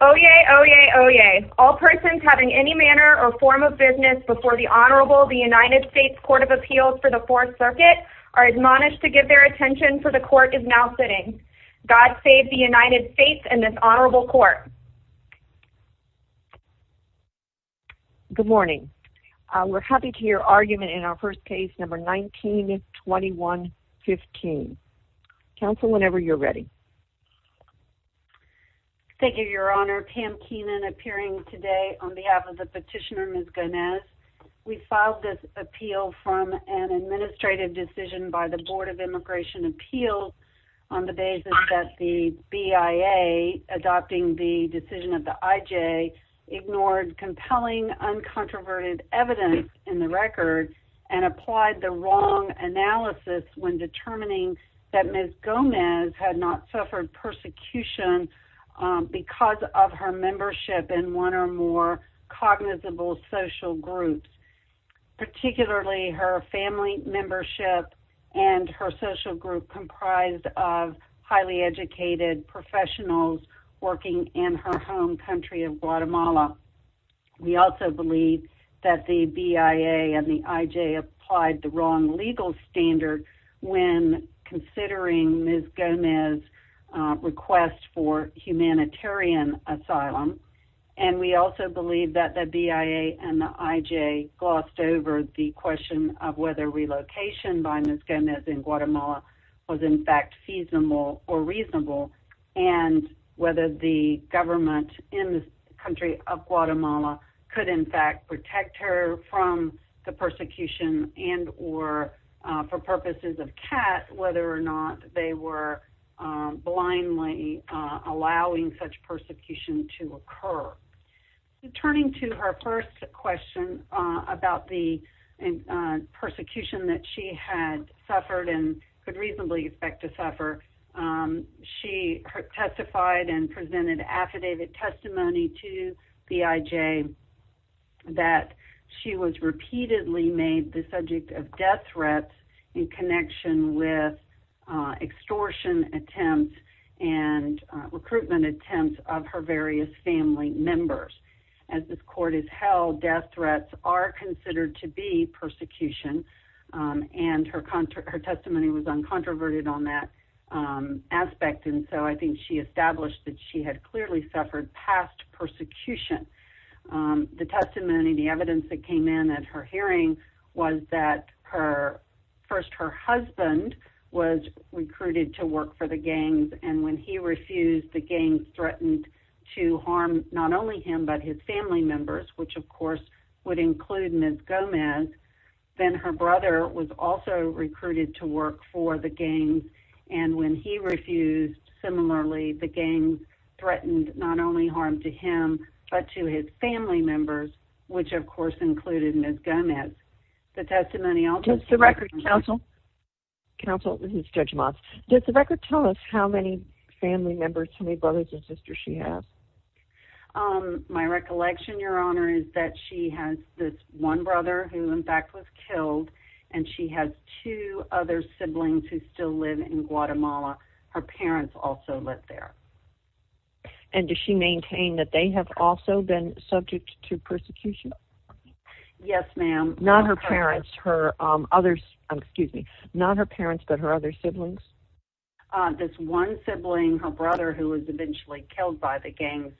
Oyez, oyez, oyez. All persons having any manner or form of business before the Honorable United States Court of Appeals for the Fourth Circuit are admonished to give their attention for the court is now sitting. God save the United States and this Honorable Court. Good morning. We're happy to hear argument in our first case number 192115. Counsel, whenever you're ready. Thank you, Your Honor. Pam Keenan appearing today on behalf of the petitioner Ms. Gomez. We filed this appeal from an administrative decision by the Board of Immigration Appeals on the basis that the BIA adopting the decision of the IJ ignored compelling, uncontroverted evidence in the record and applied the wrong analysis when determining that Ms. Gomez had not suffered any harm. She suffered persecution because of her membership in one or more cognizable social groups, particularly her family membership and her social group comprised of highly educated professionals working in her home country of Guatemala. We also believe that the BIA and the IJ applied the wrong legal standard when considering Ms. Gomez request for humanitarian asylum. And we also believe that the BIA and the IJ glossed over the question of whether relocation by Ms. Gomez in Guatemala was in fact feasible or reasonable and whether the government in the country of Guatemala could in fact protect her from the persecution and or for purposes of CAT whether or not they were blindly allowing such persecution to occur. Turning to her first question about the persecution that she had suffered and could reasonably expect to suffer, she testified and presented affidavit testimony to the IJ that she was repeatedly made the subject of death threats in connection with extortion attempts and recruitment attempts of her various family members. As this court has held, death threats are considered to be persecution and her testimony was uncontroverted on that aspect and so I think she established that she had clearly suffered past persecution. The testimony, the evidence that came in at her hearing was that first her husband was recruited to work for the gangs and when he refused, the gangs threatened to harm not only him but his family members, which of course would include Ms. Gomez. Does the record tell us how many family members, how many brothers and sisters she has? My recollection, Your Honor, is that she has this one brother who in fact was killed and she has two other siblings who still live in Guatemala. Her parents also live there. And does she maintain that they have also been subject to persecution? Yes, ma'am. Not her parents, her others, excuse me, not her parents but her other siblings. This one sibling, her brother, who was eventually killed by the gangs,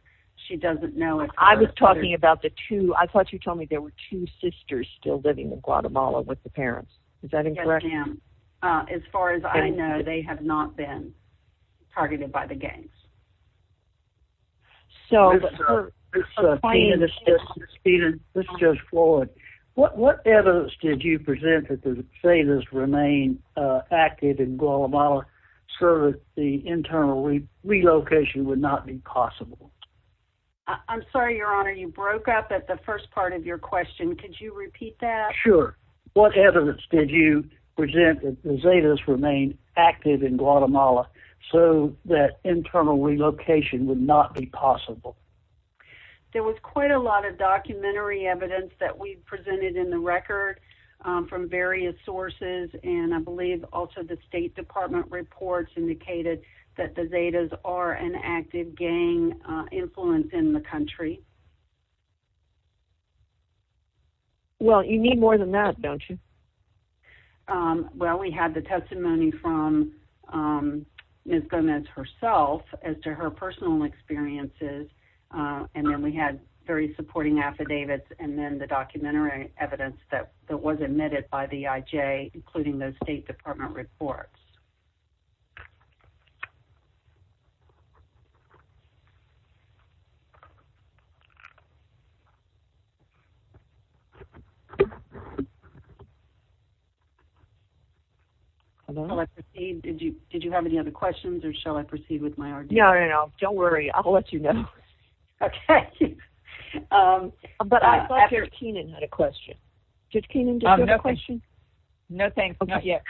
she doesn't know if... I was talking about the two, I thought you told me there were two sisters still living in Guatemala with the parents. Is that incorrect? Yes, ma'am. As far as I know, they have not been targeted by the gangs. Ms. Floyd, what evidence did you present that the Zetas remain active in Guatemala so that the internal relocation would not be possible? I'm sorry, Your Honor, you broke up at the first part of your question. Could you repeat that? Sure. What evidence did you present that the Zetas remain active in Guatemala so that internal relocation would not be possible? There was quite a lot of documentary evidence that we presented in the record from various sources and I believe also the State Department reports indicated that the Zetas are an active gang influence in the country. Well, you need more than that, don't you? Well, we had the testimony from Ms. Gomez herself as to her personal experiences and then we had very supporting affidavits and then the documentary evidence that was admitted by the IJ including those State Department reports. Did you have any other questions or shall I proceed with my argument? No, no, no. Don't worry. I'll let you know. Okay. But I thought Judge Keenan had a question. Judge Keenan, did you have a question? No, thanks. Not yet.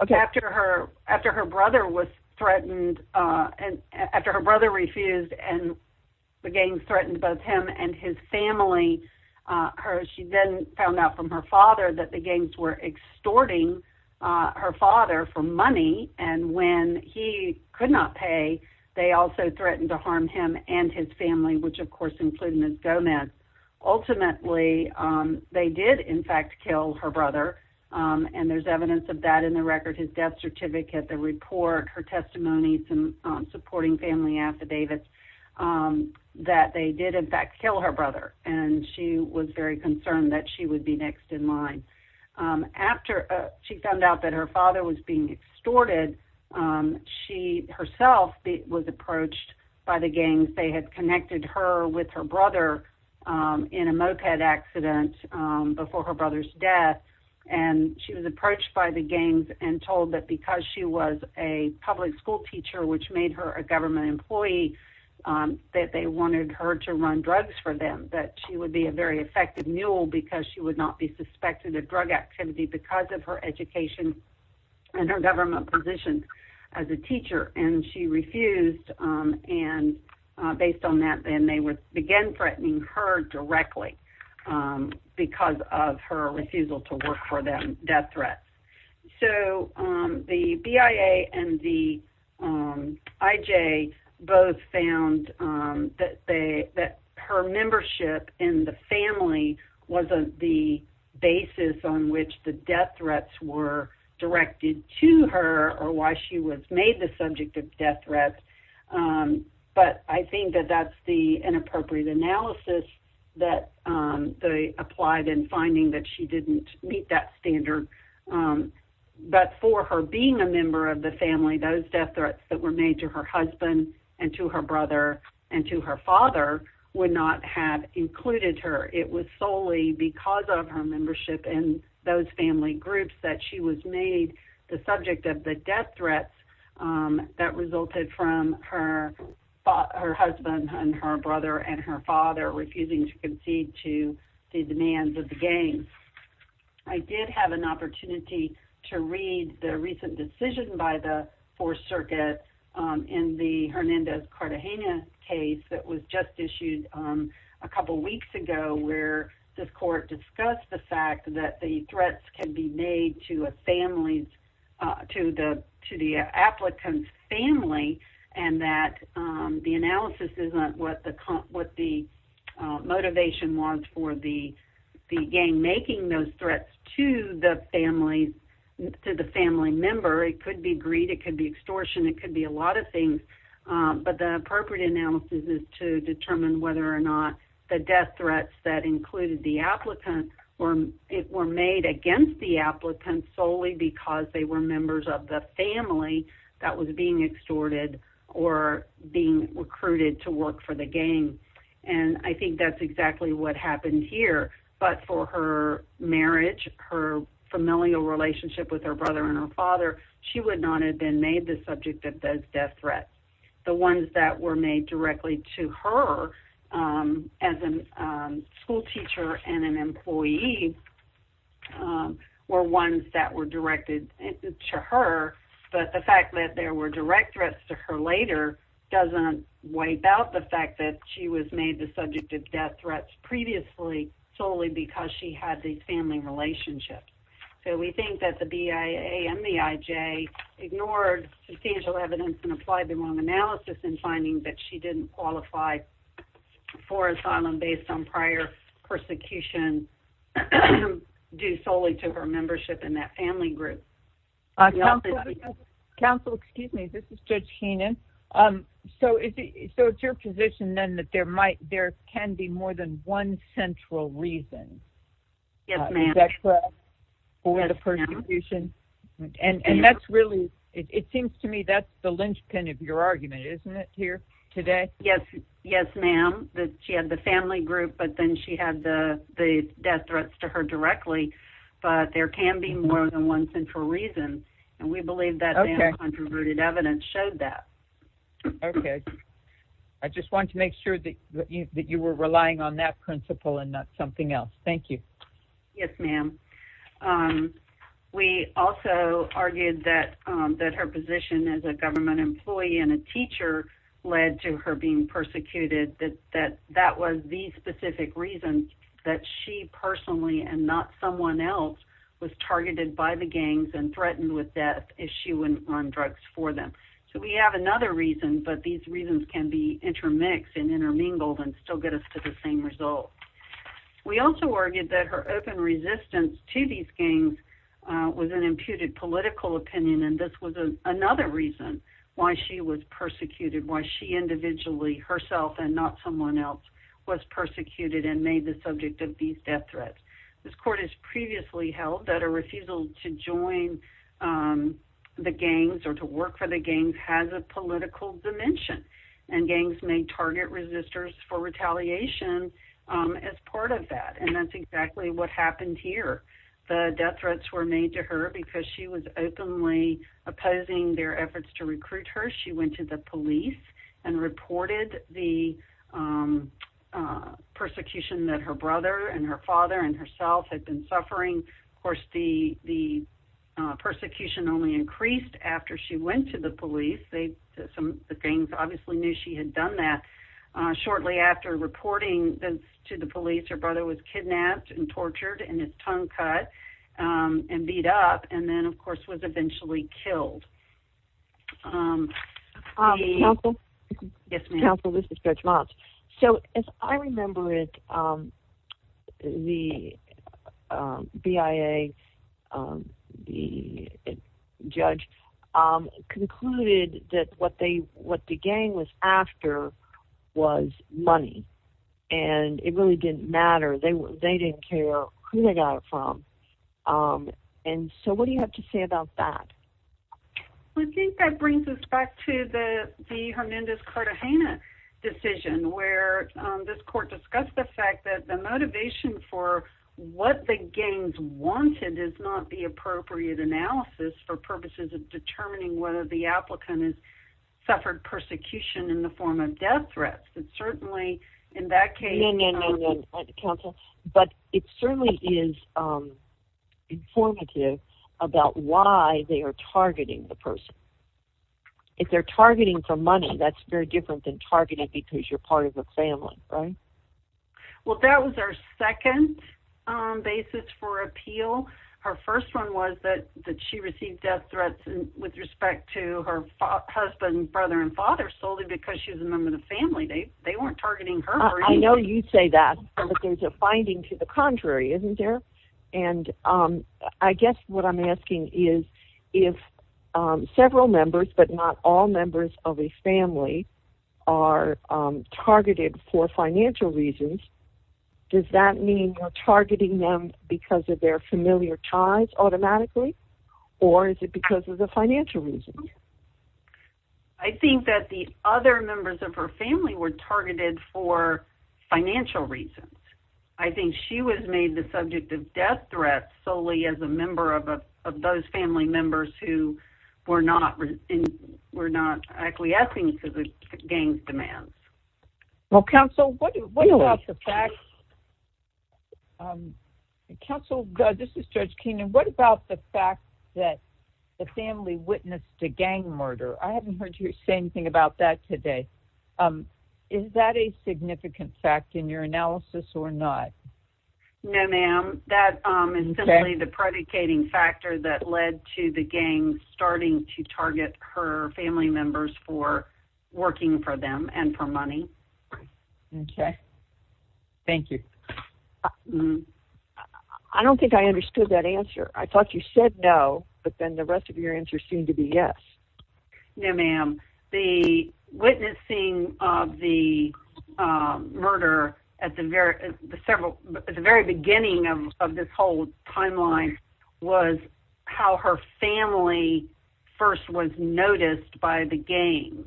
After her brother refused and the gangs threatened both him and his family, she then found out from her father that the gangs were extorting her father for money and when he could not pay, they also threatened to harm him and his family, which of course included Ms. Gomez. Ultimately, they did in fact kill her brother and there's evidence of that in the record, his death certificate, the report, her testimony, some supporting family affidavits that they did in fact kill her brother and she was very concerned that she would be next in line. After she found out that her father was being extorted, she herself was approached by the gangs. They had connected her with her brother in a moped accident before her brother's death and she was approached by the gangs and told that because she was a public school teacher, which made her a government employee, that they wanted her to run drugs for them, that she would be a very effective mule because she would not be suspected of drug activity because of her education and her government position as a teacher and she refused and based on that, then they began threatening her directly because of her refusal to work for them, death threats. The BIA and the IJ both found that her membership in the family wasn't the basis on which the death threats were directed to her or why she was made the subject of death threats, but I think that that's the inappropriate analysis that they applied in finding that she didn't meet that standard. But for her being a member of the family, those death threats that were made to her husband and to her brother and to her father would not have included her. It was solely because of her membership in those family groups that she was made the subject of the death threats that resulted from her husband and her brother and her father refusing to concede to the demands of the gangs. I did have an opportunity to read the recent decision by the Fourth Circuit in the Hernandez-Cartagena case that was just issued a couple weeks ago where this court discussed the fact that the threats can be made to a family, to the applicant's family, and that the analysis isn't what the motivation was for the gang making those threats to the family member. It could be greed. It could be extortion. It could be a lot of things. But the appropriate analysis is to determine whether or not the death threats that included the applicant were made against the applicant solely because they were members of the family that was being extorted or being recruited to work for the gang. And I think that's exactly what happened here. But for her marriage, her familial relationship with her brother and her father, she would not have been made the subject of those death threats. The ones that were made directly to her as a schoolteacher and an employee were ones that were directed to her, but the fact that there were direct threats to her later doesn't wipe out the fact that she was made the subject of death threats previously solely because she had these family relationships. So we think that the BIA and the IJ ignored substantial evidence and applied the wrong analysis in finding that she didn't qualify for asylum based on prior persecution due solely to her membership in that family group. Counsel, excuse me, this is Judge Heenan. So it's your position then that there can be more than one central reason for the persecution? And that's really, it seems to me that's the linchpin of your argument, isn't it, here today? Yes, ma'am. She had the family group, but then she had the death threats to her directly. But there can be more than one central reason. And we believe that the controverted evidence showed that. Okay. I just wanted to make sure that you were relying on that principle and not something else. Thank you. Yes, ma'am. We also argued that her position as a government employee and a teacher led to her being persecuted, that that was the specific reason that she personally and not someone else was targeted by the gangs and threatened with death if she went on drugs for them. So we have another reason, but these reasons can be intermixed and intermingled and still get us to the same result. We also argued that her open resistance to these gangs was an imputed political opinion, and this was another reason why she was persecuted, why she individually, herself and not someone else, was persecuted and made the subject of these death threats. This court has previously held that a refusal to join the gangs or to work for the gangs has a political dimension, and gangs may target resistors for retaliation as part of that, and that's exactly what happened here. The death threats were made to her because she was openly opposing their efforts to recruit her. She went to the police and reported the persecution that her brother and her father and herself had been suffering. Of course, the persecution only increased after she went to the police. Some of the gangs obviously knew she had done that. Shortly after reporting this to the police, her brother was kidnapped and tortured and his tongue cut and beat up and then, of course, was eventually killed. Yes, ma'am. Counsel, this is Judge Motz. So as I remember it, the BIA judge concluded that what the gang was after was money, and it really didn't matter. They didn't care who they got it from, and so what do you have to say about that? I think that brings us back to the Hernandez-Cartagena decision where this court discussed the fact that the motivation for what the gangs wanted is not the appropriate analysis for purposes of determining whether the applicant has suffered persecution in the form of death threats. No, no, no, Counsel. But it certainly is informative about why they are targeting the person. If they're targeting for money, that's very different than targeting because you're part of the family, right? Well, that was our second basis for appeal. Her first one was that she received death threats with respect to her husband, brother, and father solely because she was a member of the family. They weren't targeting her. I know you say that, but there's a finding to the contrary, isn't there? And I guess what I'm asking is if several members, but not all members of a family, are targeted for financial reasons, does that mean you're targeting them because of their familiar ties automatically, or is it because of the financial reasons? I think that the other members of her family were targeted for financial reasons. I think she was made the subject of death threats solely as a member of those family members who were not acquiescing to the gangs' demands. Well, Counsel, this is Judge Keenan. What about the fact that the family witnessed a gang murder? I haven't heard you say anything about that today. Is that a significant fact in your analysis or not? No, ma'am. That is simply the predicating factor that led to the gang starting to target her family members for working for them and for money. Okay. Thank you. I don't think I understood that answer. I thought you said no, but then the rest of your answers seemed to be yes. No, ma'am. The witnessing of the murder at the very beginning of this whole timeline was how her family first was noticed by the gangs.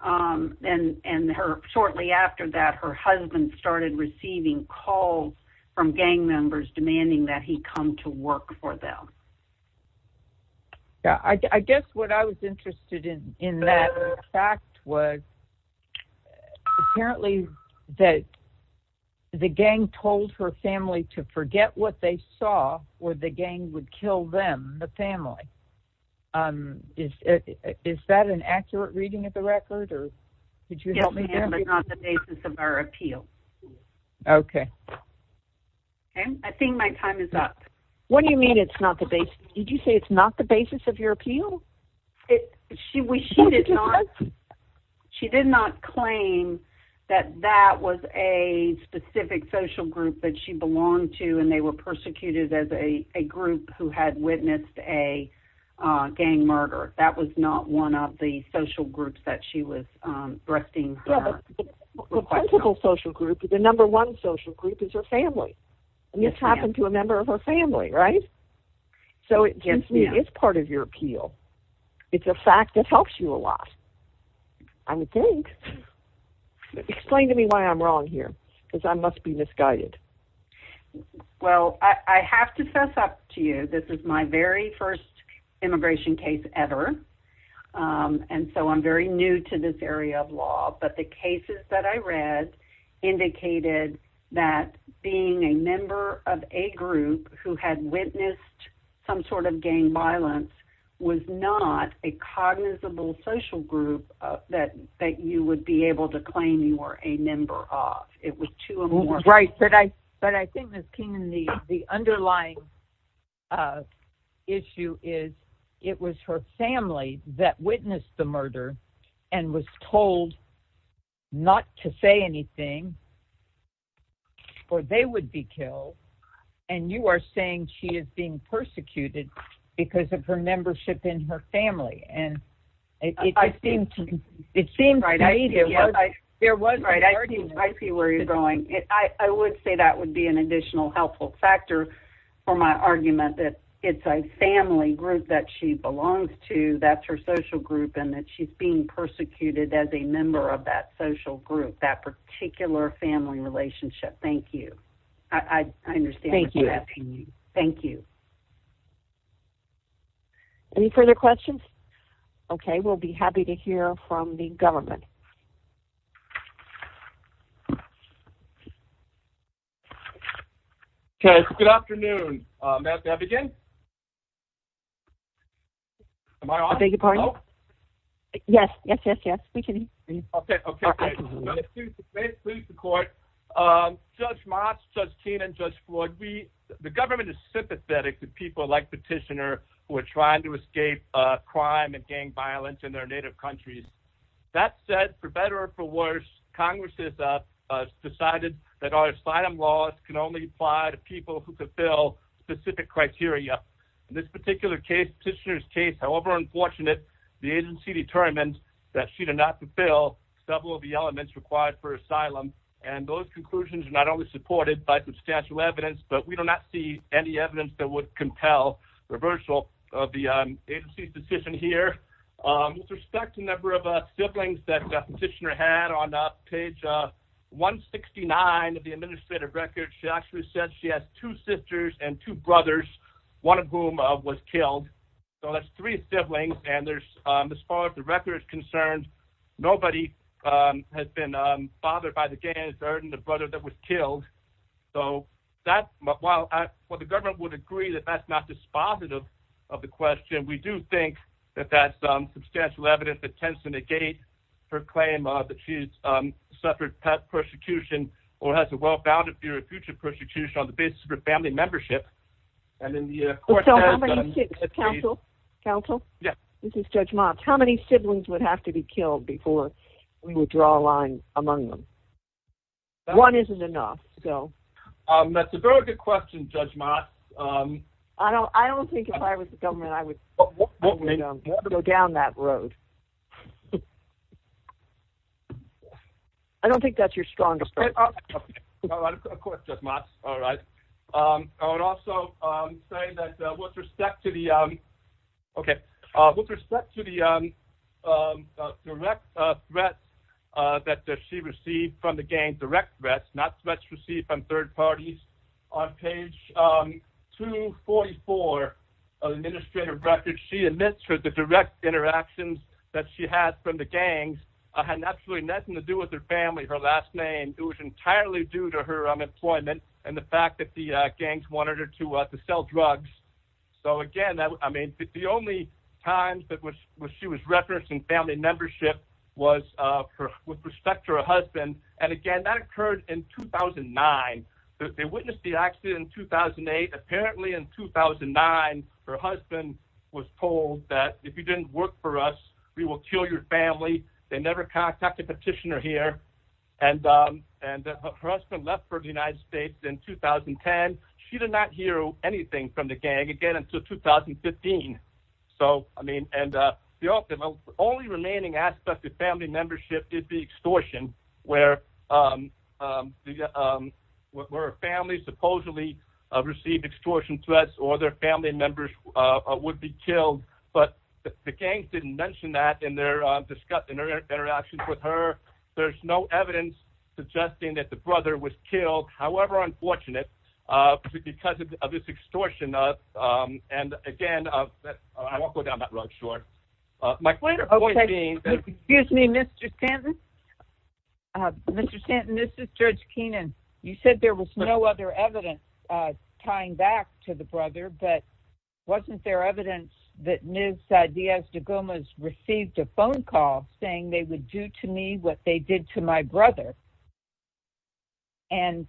And shortly after that, her husband started receiving calls from gang members demanding that he come to work for them. I guess what I was interested in that fact was apparently that the gang told her family to forget what they saw or the gang would kill them, the family. Is that an accurate reading of the record? Yes, ma'am, but not the basis of our appeal. Okay. I think my time is up. What do you mean it's not the basis? Did you say it's not the basis of your appeal? She did not claim that that was a specific social group that she belonged to and they were persecuted as a group who had witnessed a gang murder. That was not one of the social groups that she was requesting. The principal social group, the number one social group, is her family. And this happened to a member of her family, right? So it is part of your appeal. It's a fact that helps you a lot. I would think. Explain to me why I'm wrong here because I must be misguided. Well, I have to fess up to you. This is my very first immigration case ever. And so I'm very new to this area of law. But the cases that I read indicated that being a member of a group who had witnessed some sort of gang violence was not a cognizable social group that you would be able to claim you were a member of. It was two or more. Right. But I think, Ms. Keenan, the underlying issue is it was her family that witnessed the murder and was told not to say anything or they would be killed. And you are saying she is being persecuted because of her membership in her family. I see where you're going. I would say that would be an additional helpful factor for my argument that it's a family group that she belongs to. That's her social group and that she's being persecuted as a member of that social group, that particular family relationship. Thank you. I understand. Thank you. Thank you. Any further questions? OK, we'll be happy to hear from the government. Good afternoon. Yes, yes, yes. This particular case, Petitioner's case, however unfortunate, the agency determined that she did not fulfill several of the elements required for asylum. And those conclusions are not only supported by substantial evidence, but we do not see any evidence that would compel reversal of the agency's decision here. With respect to the number of siblings that Petitioner had on page 169 of the administrative record, she actually said she has two sisters and two brothers, one of whom was killed. So that's three siblings. And there's as far as the record is concerned, nobody has been bothered by the gain of burden, the brother that was killed. So that's what the government would agree that that's not dispositive of the question. We do think that that's substantial evidence that tends to negate her claim that she's suffered persecution or has a well-founded future persecution on the basis of her family membership. Counsel? Counsel? Yes. This is Judge Motz. How many siblings would have to be killed before we would draw a line among them? One isn't enough, so. That's a very good question, Judge Motz. I don't think if I was the government, I would go down that road. I don't think that's your strongest argument. Of course, Judge Motz. All right. I would also say that with respect to the direct threats that she received from the gang, direct threats, not threats received from third parties, on page 244 of the administrative record, she admits that the direct interactions that she had from the gangs had absolutely nothing to do with her family, her last name. It was entirely due to her unemployment and the fact that the gangs wanted her to sell drugs. So again, I mean, the only times that she was referenced in family membership was with respect to her husband. They witnessed the accident in 2008. Apparently in 2009, her husband was told that if you didn't work for us, we will kill your family. They never contacted Petitioner here. And her husband left for the United States in 2010. She did not hear anything from the gang again until 2015. The only remaining aspect of family membership is the extortion, where a family supposedly received extortion threats or their family members would be killed. But the gangs didn't mention that in their interactions with her. There's no evidence suggesting that the brother was killed, however unfortunate, because of this extortion. And again, I won't go down that road, sure. Excuse me, Mr. Stanton. Mr. Stanton, this is Judge Keenan. You said there was no other evidence tying back to the brother, but wasn't there evidence that Ms. Diaz de Gomez received a phone call saying they would do to me what they did to my brother? And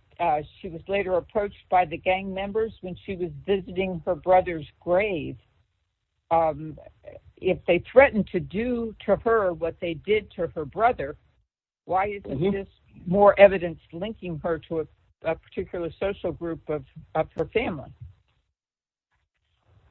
she was later approached by the gang members when she was visiting her brother's grave. If they threatened to do to her what they did to her brother, why isn't this more evidence linking her to a particular social group of her family?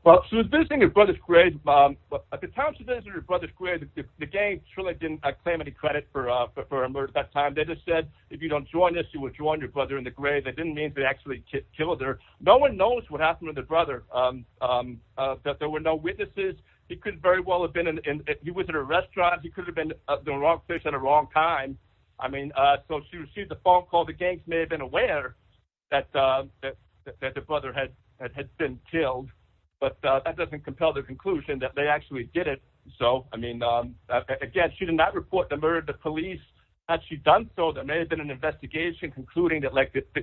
Well, she was visiting her brother's grave. At the time she was visiting her brother's grave, the gangs really didn't claim any credit for her murder at that time. They just said, if you don't join us, you will join your brother in the grave. That didn't mean they actually killed her. No one knows what happened to the brother. There were no witnesses. He was in a restaurant. He could have been the wrong fish at the wrong time. So she received a phone call. The gangs may have been aware that the brother had been killed, but that doesn't compel the conclusion that they actually did it. Again, she did not report the murder to police. Had she done so, there may have been an investigation concluding that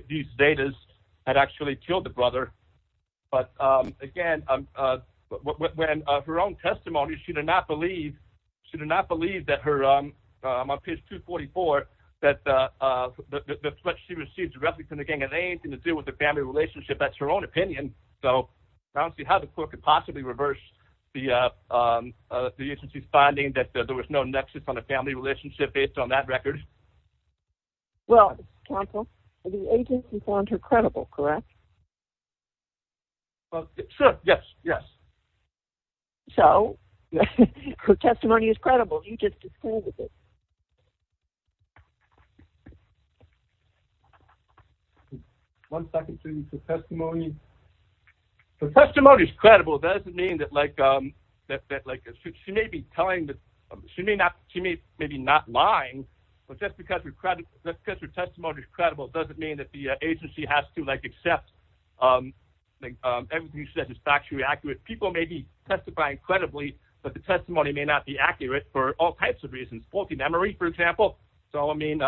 these datas had actually killed the brother. But again, when her own testimony, she did not believe, she did not believe on page 244 that what she received directly from the gang had anything to do with the family relationship. That's her own opinion. So I don't see how the court could possibly reverse the agency's finding that there was no nexus on a family relationship based on that record. Well, counsel, the agency found her credible, correct? Sure, yes, yes. So her testimony is credible. You just disapproved of it. Okay. One second, please. Her testimony is credible. That doesn't mean that, like, she may be telling, she may be not lying, but just because her testimony is credible doesn't mean that the agency has to, like, accept everything you said is factually accurate. People may be testifying credibly, but the testimony may not be accurate for all types of reasons, faulty memory, for example. So, I mean,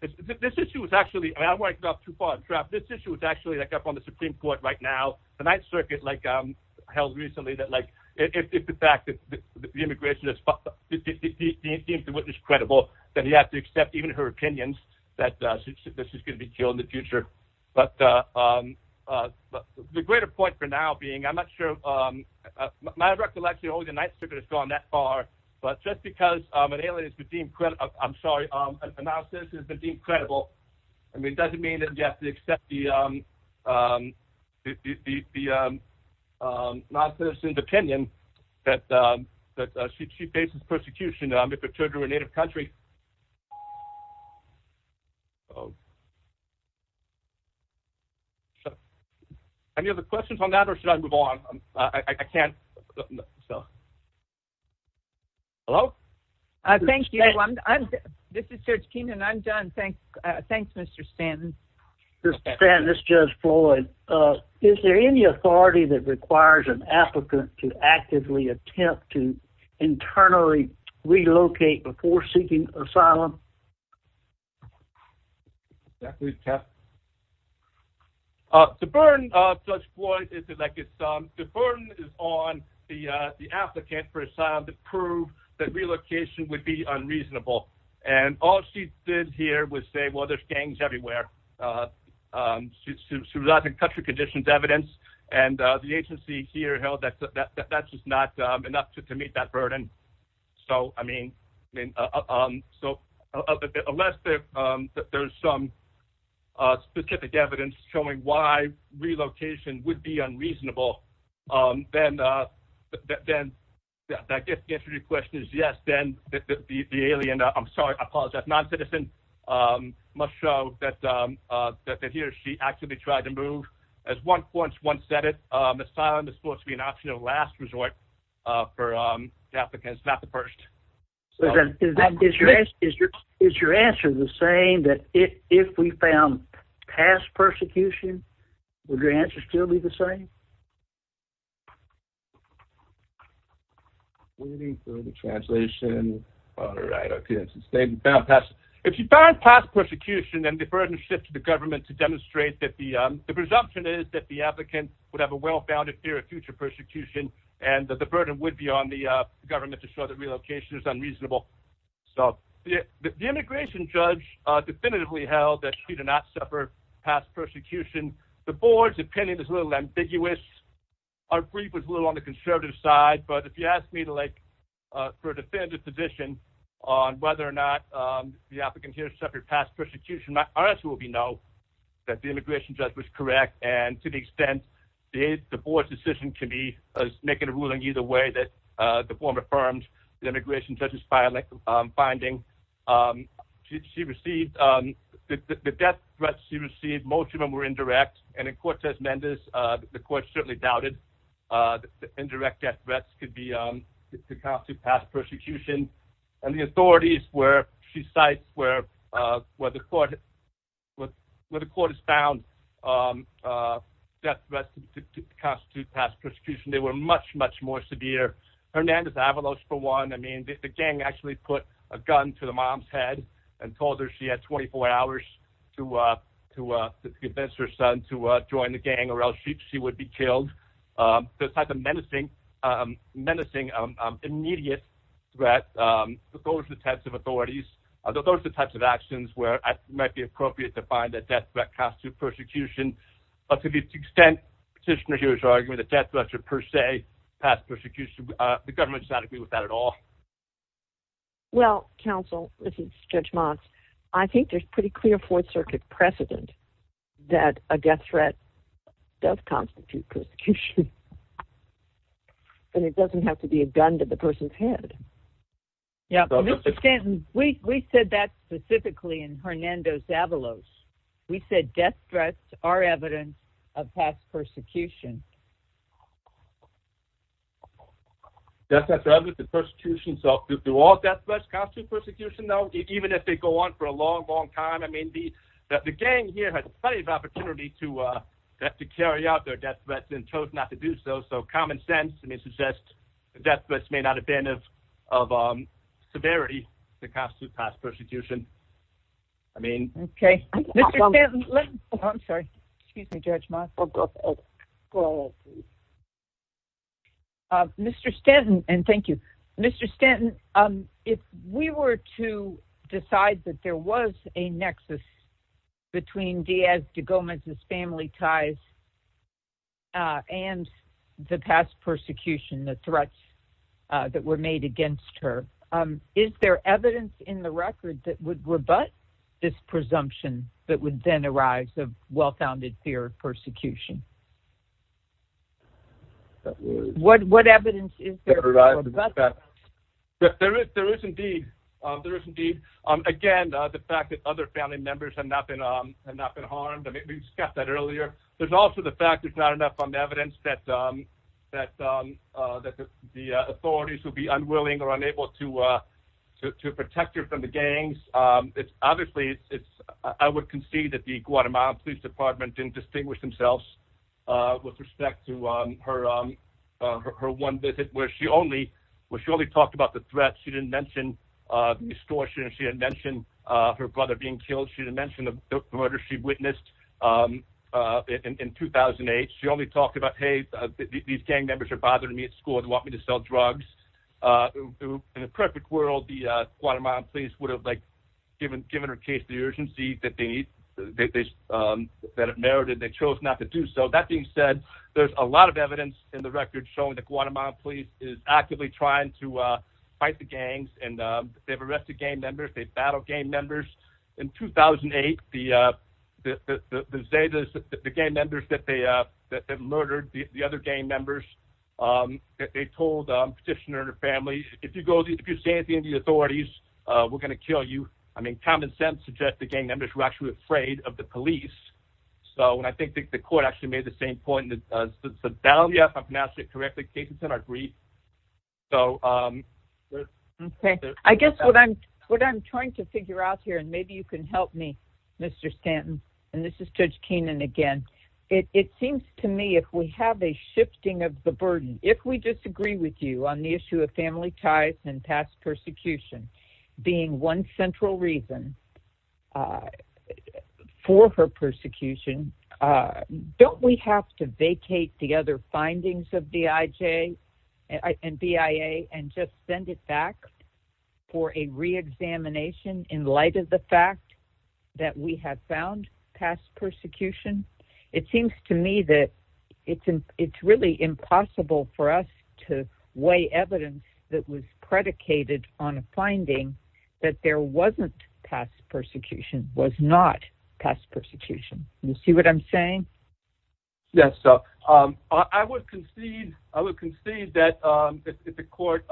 this issue was actually, I'm working off too far, this issue was actually, like, up on the Supreme Court right now. The Ninth Circuit, like, held recently that, like, if the fact that the immigration is credible, then you have to accept even her opinions that she's going to be killed in the future. But the greater point for now being, I'm not sure, my recollection, oh, the Ninth Circuit has gone that far, but just because an alien has been deemed credible, I'm sorry, a non-citizen has been deemed credible, I mean, it doesn't mean that you have to accept the non-citizen's opinion that she faces persecution if her children were a native country. Any other questions on that, or should I move on? I can't. Hello? Thank you. This is Judge Keenan. I'm done. Thanks, Mr. Stanton. Mr. Stanton, this is Judge Floyd. Is there any authority that requires an applicant to actively attempt to internally relocate before seeking asylum? Yeah, please, Jeff. The burden, Judge Floyd, is, like, the burden is on the applicant for asylum to prove that relocation would be unreasonable. And all she did here was say, well, there's gangs everywhere. She relied on country conditions evidence, and the agency here held that that's just not enough to meet that burden. So, I mean, unless there's some specific evidence showing why relocation would be unreasonable, then I guess the answer to your question is yes, then the alien, I'm sorry, I apologize, non-citizen, must show that he or she actually tried to move. As one said it, asylum is supposed to be an optional last resort for the applicant. It's not the first. Is your answer the same that if we found past persecution, would your answer still be the same? Waiting for the translation. All right. If you found past persecution, then the burden shifts to the government to demonstrate that the presumption is that the applicant would have a well-founded fear of future persecution and that the burden would be on the government to show that relocation is unreasonable. So, the immigration judge definitively held that she did not suffer past persecution. The board's opinion is a little ambiguous. Our brief was a little on the conservative side, but if you ask me to, like, for a definitive position on whether or not the applicant here suffered past persecution, my answer will be no, that the immigration judge was correct, and to the extent the board's decision can be a negative ruling either way, that the form affirms the immigration judge's finding. The death threats she received, most of them were indirect, and in Cortez Mendez, the court certainly doubted that indirect death threats could constitute past persecution, and the authorities where she cites where the court has found death threats to constitute past persecution, they were much, much more severe. Hernandez Avalos, for one, I mean, the gang actually put a gun to the mom's head and told her she had 24 hours to convince her son to join the gang or else she would be killed. So, it's not the menacing, immediate threat, but those are the types of authorities, those are the types of actions where it might be appropriate to find that death threat constitutes persecution. But to the extent the petitioner here is arguing that death threats are per se past persecution, the government does not agree with that at all. Well, counsel, this is Judge Motz, I think there's pretty clear Fourth Circuit precedent that a death threat does constitute persecution. But it doesn't have to be a gun to the person's head. Yeah, Mr. Stanton, we said that specifically in Hernandez Avalos. We said death threats are evidence of past persecution. Death threats are evidence of persecution. So, do all death threats constitute persecution, though, even if they go on for a long, long time? I mean, the gang here has plenty of opportunity to carry out their death threats and chose not to do so. So, common sense suggests that death threats may not have been of severity to constitute past persecution. Mr. Stanton, if we were to decide that there was a nexus between Diaz de Gomez's family ties and the past persecution, the threats that were made against her, is there evidence in the record that would rebut this presumption that would then arise of well-founded fear of persecution? What evidence is there to rebut that? There is indeed. Again, the fact that other family members have not been harmed, we discussed that earlier. There's also the fact that there's not enough evidence that the authorities would be unwilling or unable to protect her from the gangs. Obviously, I would concede that the Guatemala Police Department didn't distinguish themselves with respect to her one visit where she only talked about the threats. She didn't mention extortion. She didn't mention her brother being killed. She didn't mention the murder she witnessed in 2008. She only talked about, hey, these gang members are bothering me at school. They want me to sell drugs. In a perfect world, the Guatemala Police would have given her case the urgency that it merited. They chose not to do so. That being said, there's a lot of evidence in the record showing the Guatemala Police is actively trying to fight the gangs. They've arrested gang members. They've battled gang members. In 2008, the gang members that they murdered, the other gang members, they told the petitioner and her family, if you're standing in the authorities, we're going to kill you. Common sense suggests the gang members were actually afraid of the police. I think the court actually made the same point. I guess what I'm trying to figure out here, and maybe you can help me, Mr. Stanton, and this is Judge Keenan again, it seems to me if we have a shifting of the burden, if we disagree with you on the issue of family ties and past persecution being one central reason for her persecution, don't we have to vacate the other findings of BIJ and BIA and just send it back for a reexamination in light of the fact that we have found past persecution? It seems to me that it's really impossible for us to weigh evidence that was predicated on a finding that there wasn't past persecution, was not past persecution. You see what I'm saying? Yes. I would concede that if the court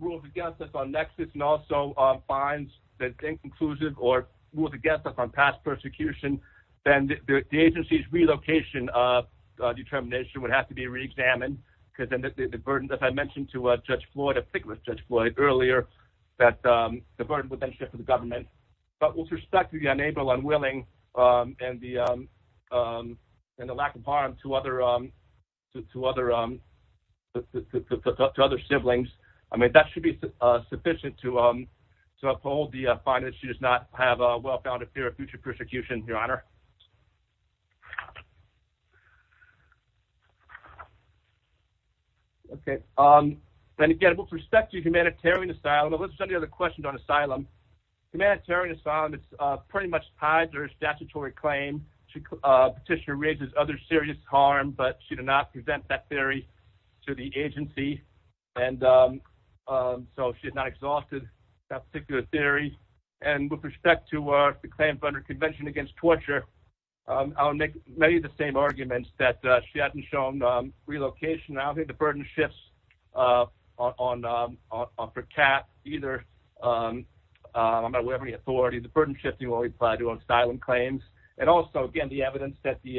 rules against us on nexus and also finds that it's inconclusive or rules against us on past persecution, then the agency's relocation determination would have to be reexamined because of the burden, as I mentioned to Judge Floyd, particularly Judge Floyd earlier, that the burden would then shift to the government. But with respect to the unable, unwilling, and the lack of harm to other siblings, I mean, that should be sufficient to uphold the finding that she does not have a well-founded fear of future persecution, Your Honor. Okay. And again, with respect to humanitarian asylum, let's jump to the other questions on asylum. Humanitarian asylum, it's pretty much tied to her statutory claim. Petitioner raises other serious harm, but she did not present that theory to the agency. And so she's not exhausted that particular theory. And with respect to the claims under Convention Against Torture, I would make many of the same arguments that she hadn't shown relocation. I don't think the burden shifts on her cap either. I'm not aware of any authority. The burden shifting will apply to asylum claims. And also, again, the evidence that the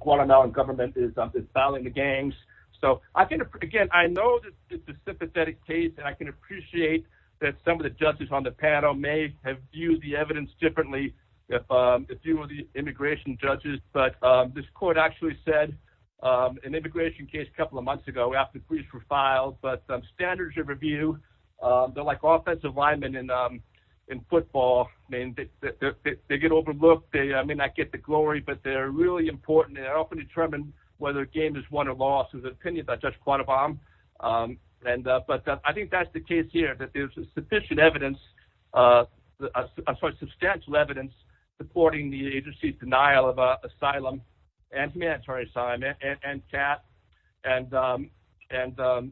Guatemalan government is disemboweling the gangs. So, again, I know that this is a sympathetic case, and I can appreciate that some of the judges on the panel may have viewed the evidence differently than a few of the immigration judges. But this court actually said, in the immigration case a couple of months ago, after the briefs were filed, but standards of review, they're like offensive linemen in football. I mean, they get overlooked. They may not get the glory, but they're really important. They often determine whether a game is won or lost. There's an opinion by Judge Cuadobam. But I think that's the case here, that there's sufficient evidence, I'm sorry, substantial evidence, supporting the agency's denial of asylum and humanitarian asylum and cap. And the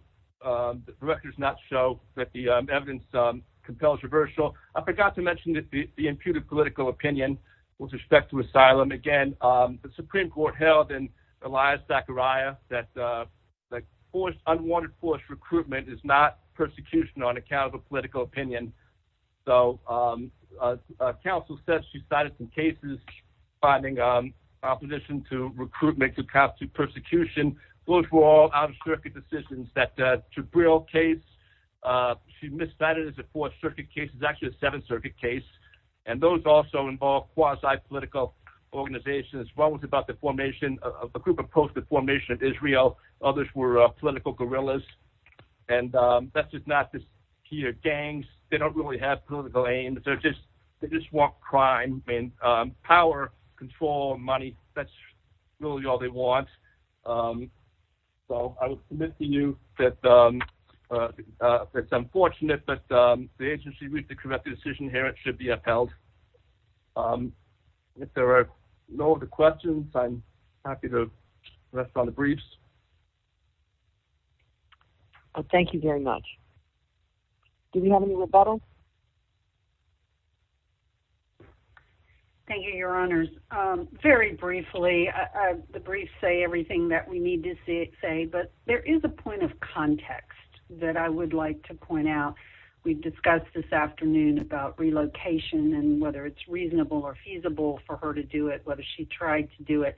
record does not show that the evidence compels reversal. I forgot to mention the imputed political opinion with respect to asylum. Again, the Supreme Court held in Elias-Zachariah that unwanted forced recruitment is not persecution on account of a political opinion. So, counsel said she cited some cases finding opposition to recruitment to constitute persecution. Those were all out-of-circuit decisions. That Jabril case, she miscited it as a fourth-circuit case. This is actually a seventh-circuit case. And those also involve quasi-political organizations. One was about the formation of a group opposed to the formation of Israel. Others were political guerrillas. And that's just not the key. Gangs, they don't really have political aims. They just want crime and power, control, money. That's really all they want. So, I will submit to you that it's unfortunate that the agency reached a corrective decision here. It should be upheld. If there are no other questions, I'm happy to rest on the briefs. Thank you very much. Do we have any rebuttals? Thank you, Your Honors. Very briefly, the briefs say everything that we need to say, but there is a point of context that I would like to point out. We've discussed this afternoon about relocation and whether it's reasonable or feasible for her to do it, whether she tried to do it.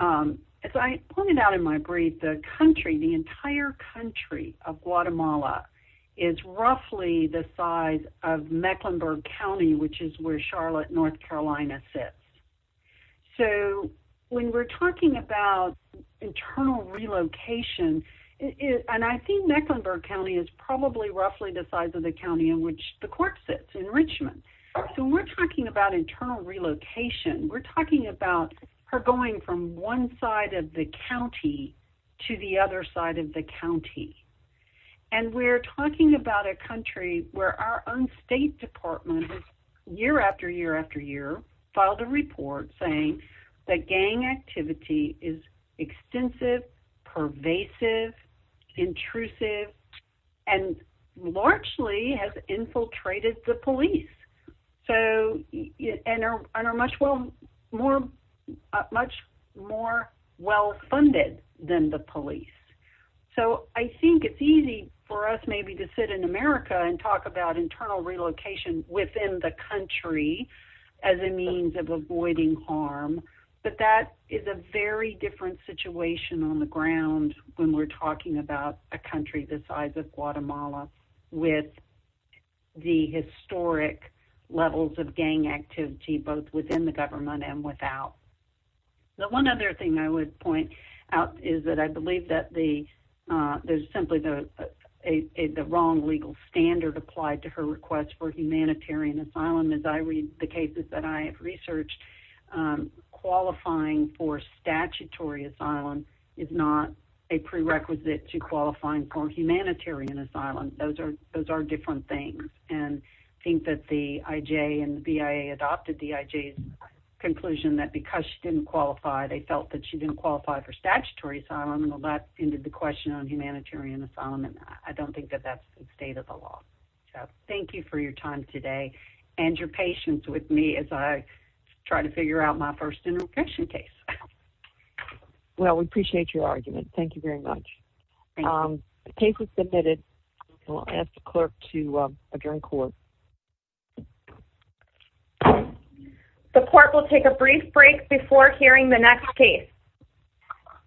As I pointed out in my brief, the country, the entire country of Guatemala is roughly the size of Mecklenburg County, which is where Charlotte, North Carolina sits. So, when we're talking about internal relocation, and I think Mecklenburg County is probably roughly the size of the county in which the court sits in Richmond. So, when we're talking about internal relocation, we're talking about her going from one side of the county to the other side of the county. And we're talking about a country where our own State Department, year after year after year, filed a report saying that gang activity is extensive, pervasive, intrusive, and largely has infiltrated the police. And are much more well-funded than the police. So, I think it's easy for us maybe to sit in America and talk about internal relocation within the country as a means of avoiding harm. But that is a very different situation on the ground when we're talking about a country the size of Guatemala with the historic levels of gang activity both within the government and without. The one other thing I would point out is that I believe that there's simply the wrong legal standard applied to her request for humanitarian asylum. As I read the cases that I have researched, qualifying for statutory asylum is not a prerequisite to qualifying for humanitarian asylum. Those are different things. And I think that the IJ and the BIA adopted the IJ's conclusion that because she didn't qualify, they felt that she didn't qualify for statutory asylum. Well, that ended the question on humanitarian asylum. And I don't think that that's the state of the law. So, thank you for your time today and your patience with me as I try to figure out my first interlocution case. Well, we appreciate your argument. Thank you very much. Thank you. I'll ask the clerk to adjourn court. The court will take a brief break before hearing the next case.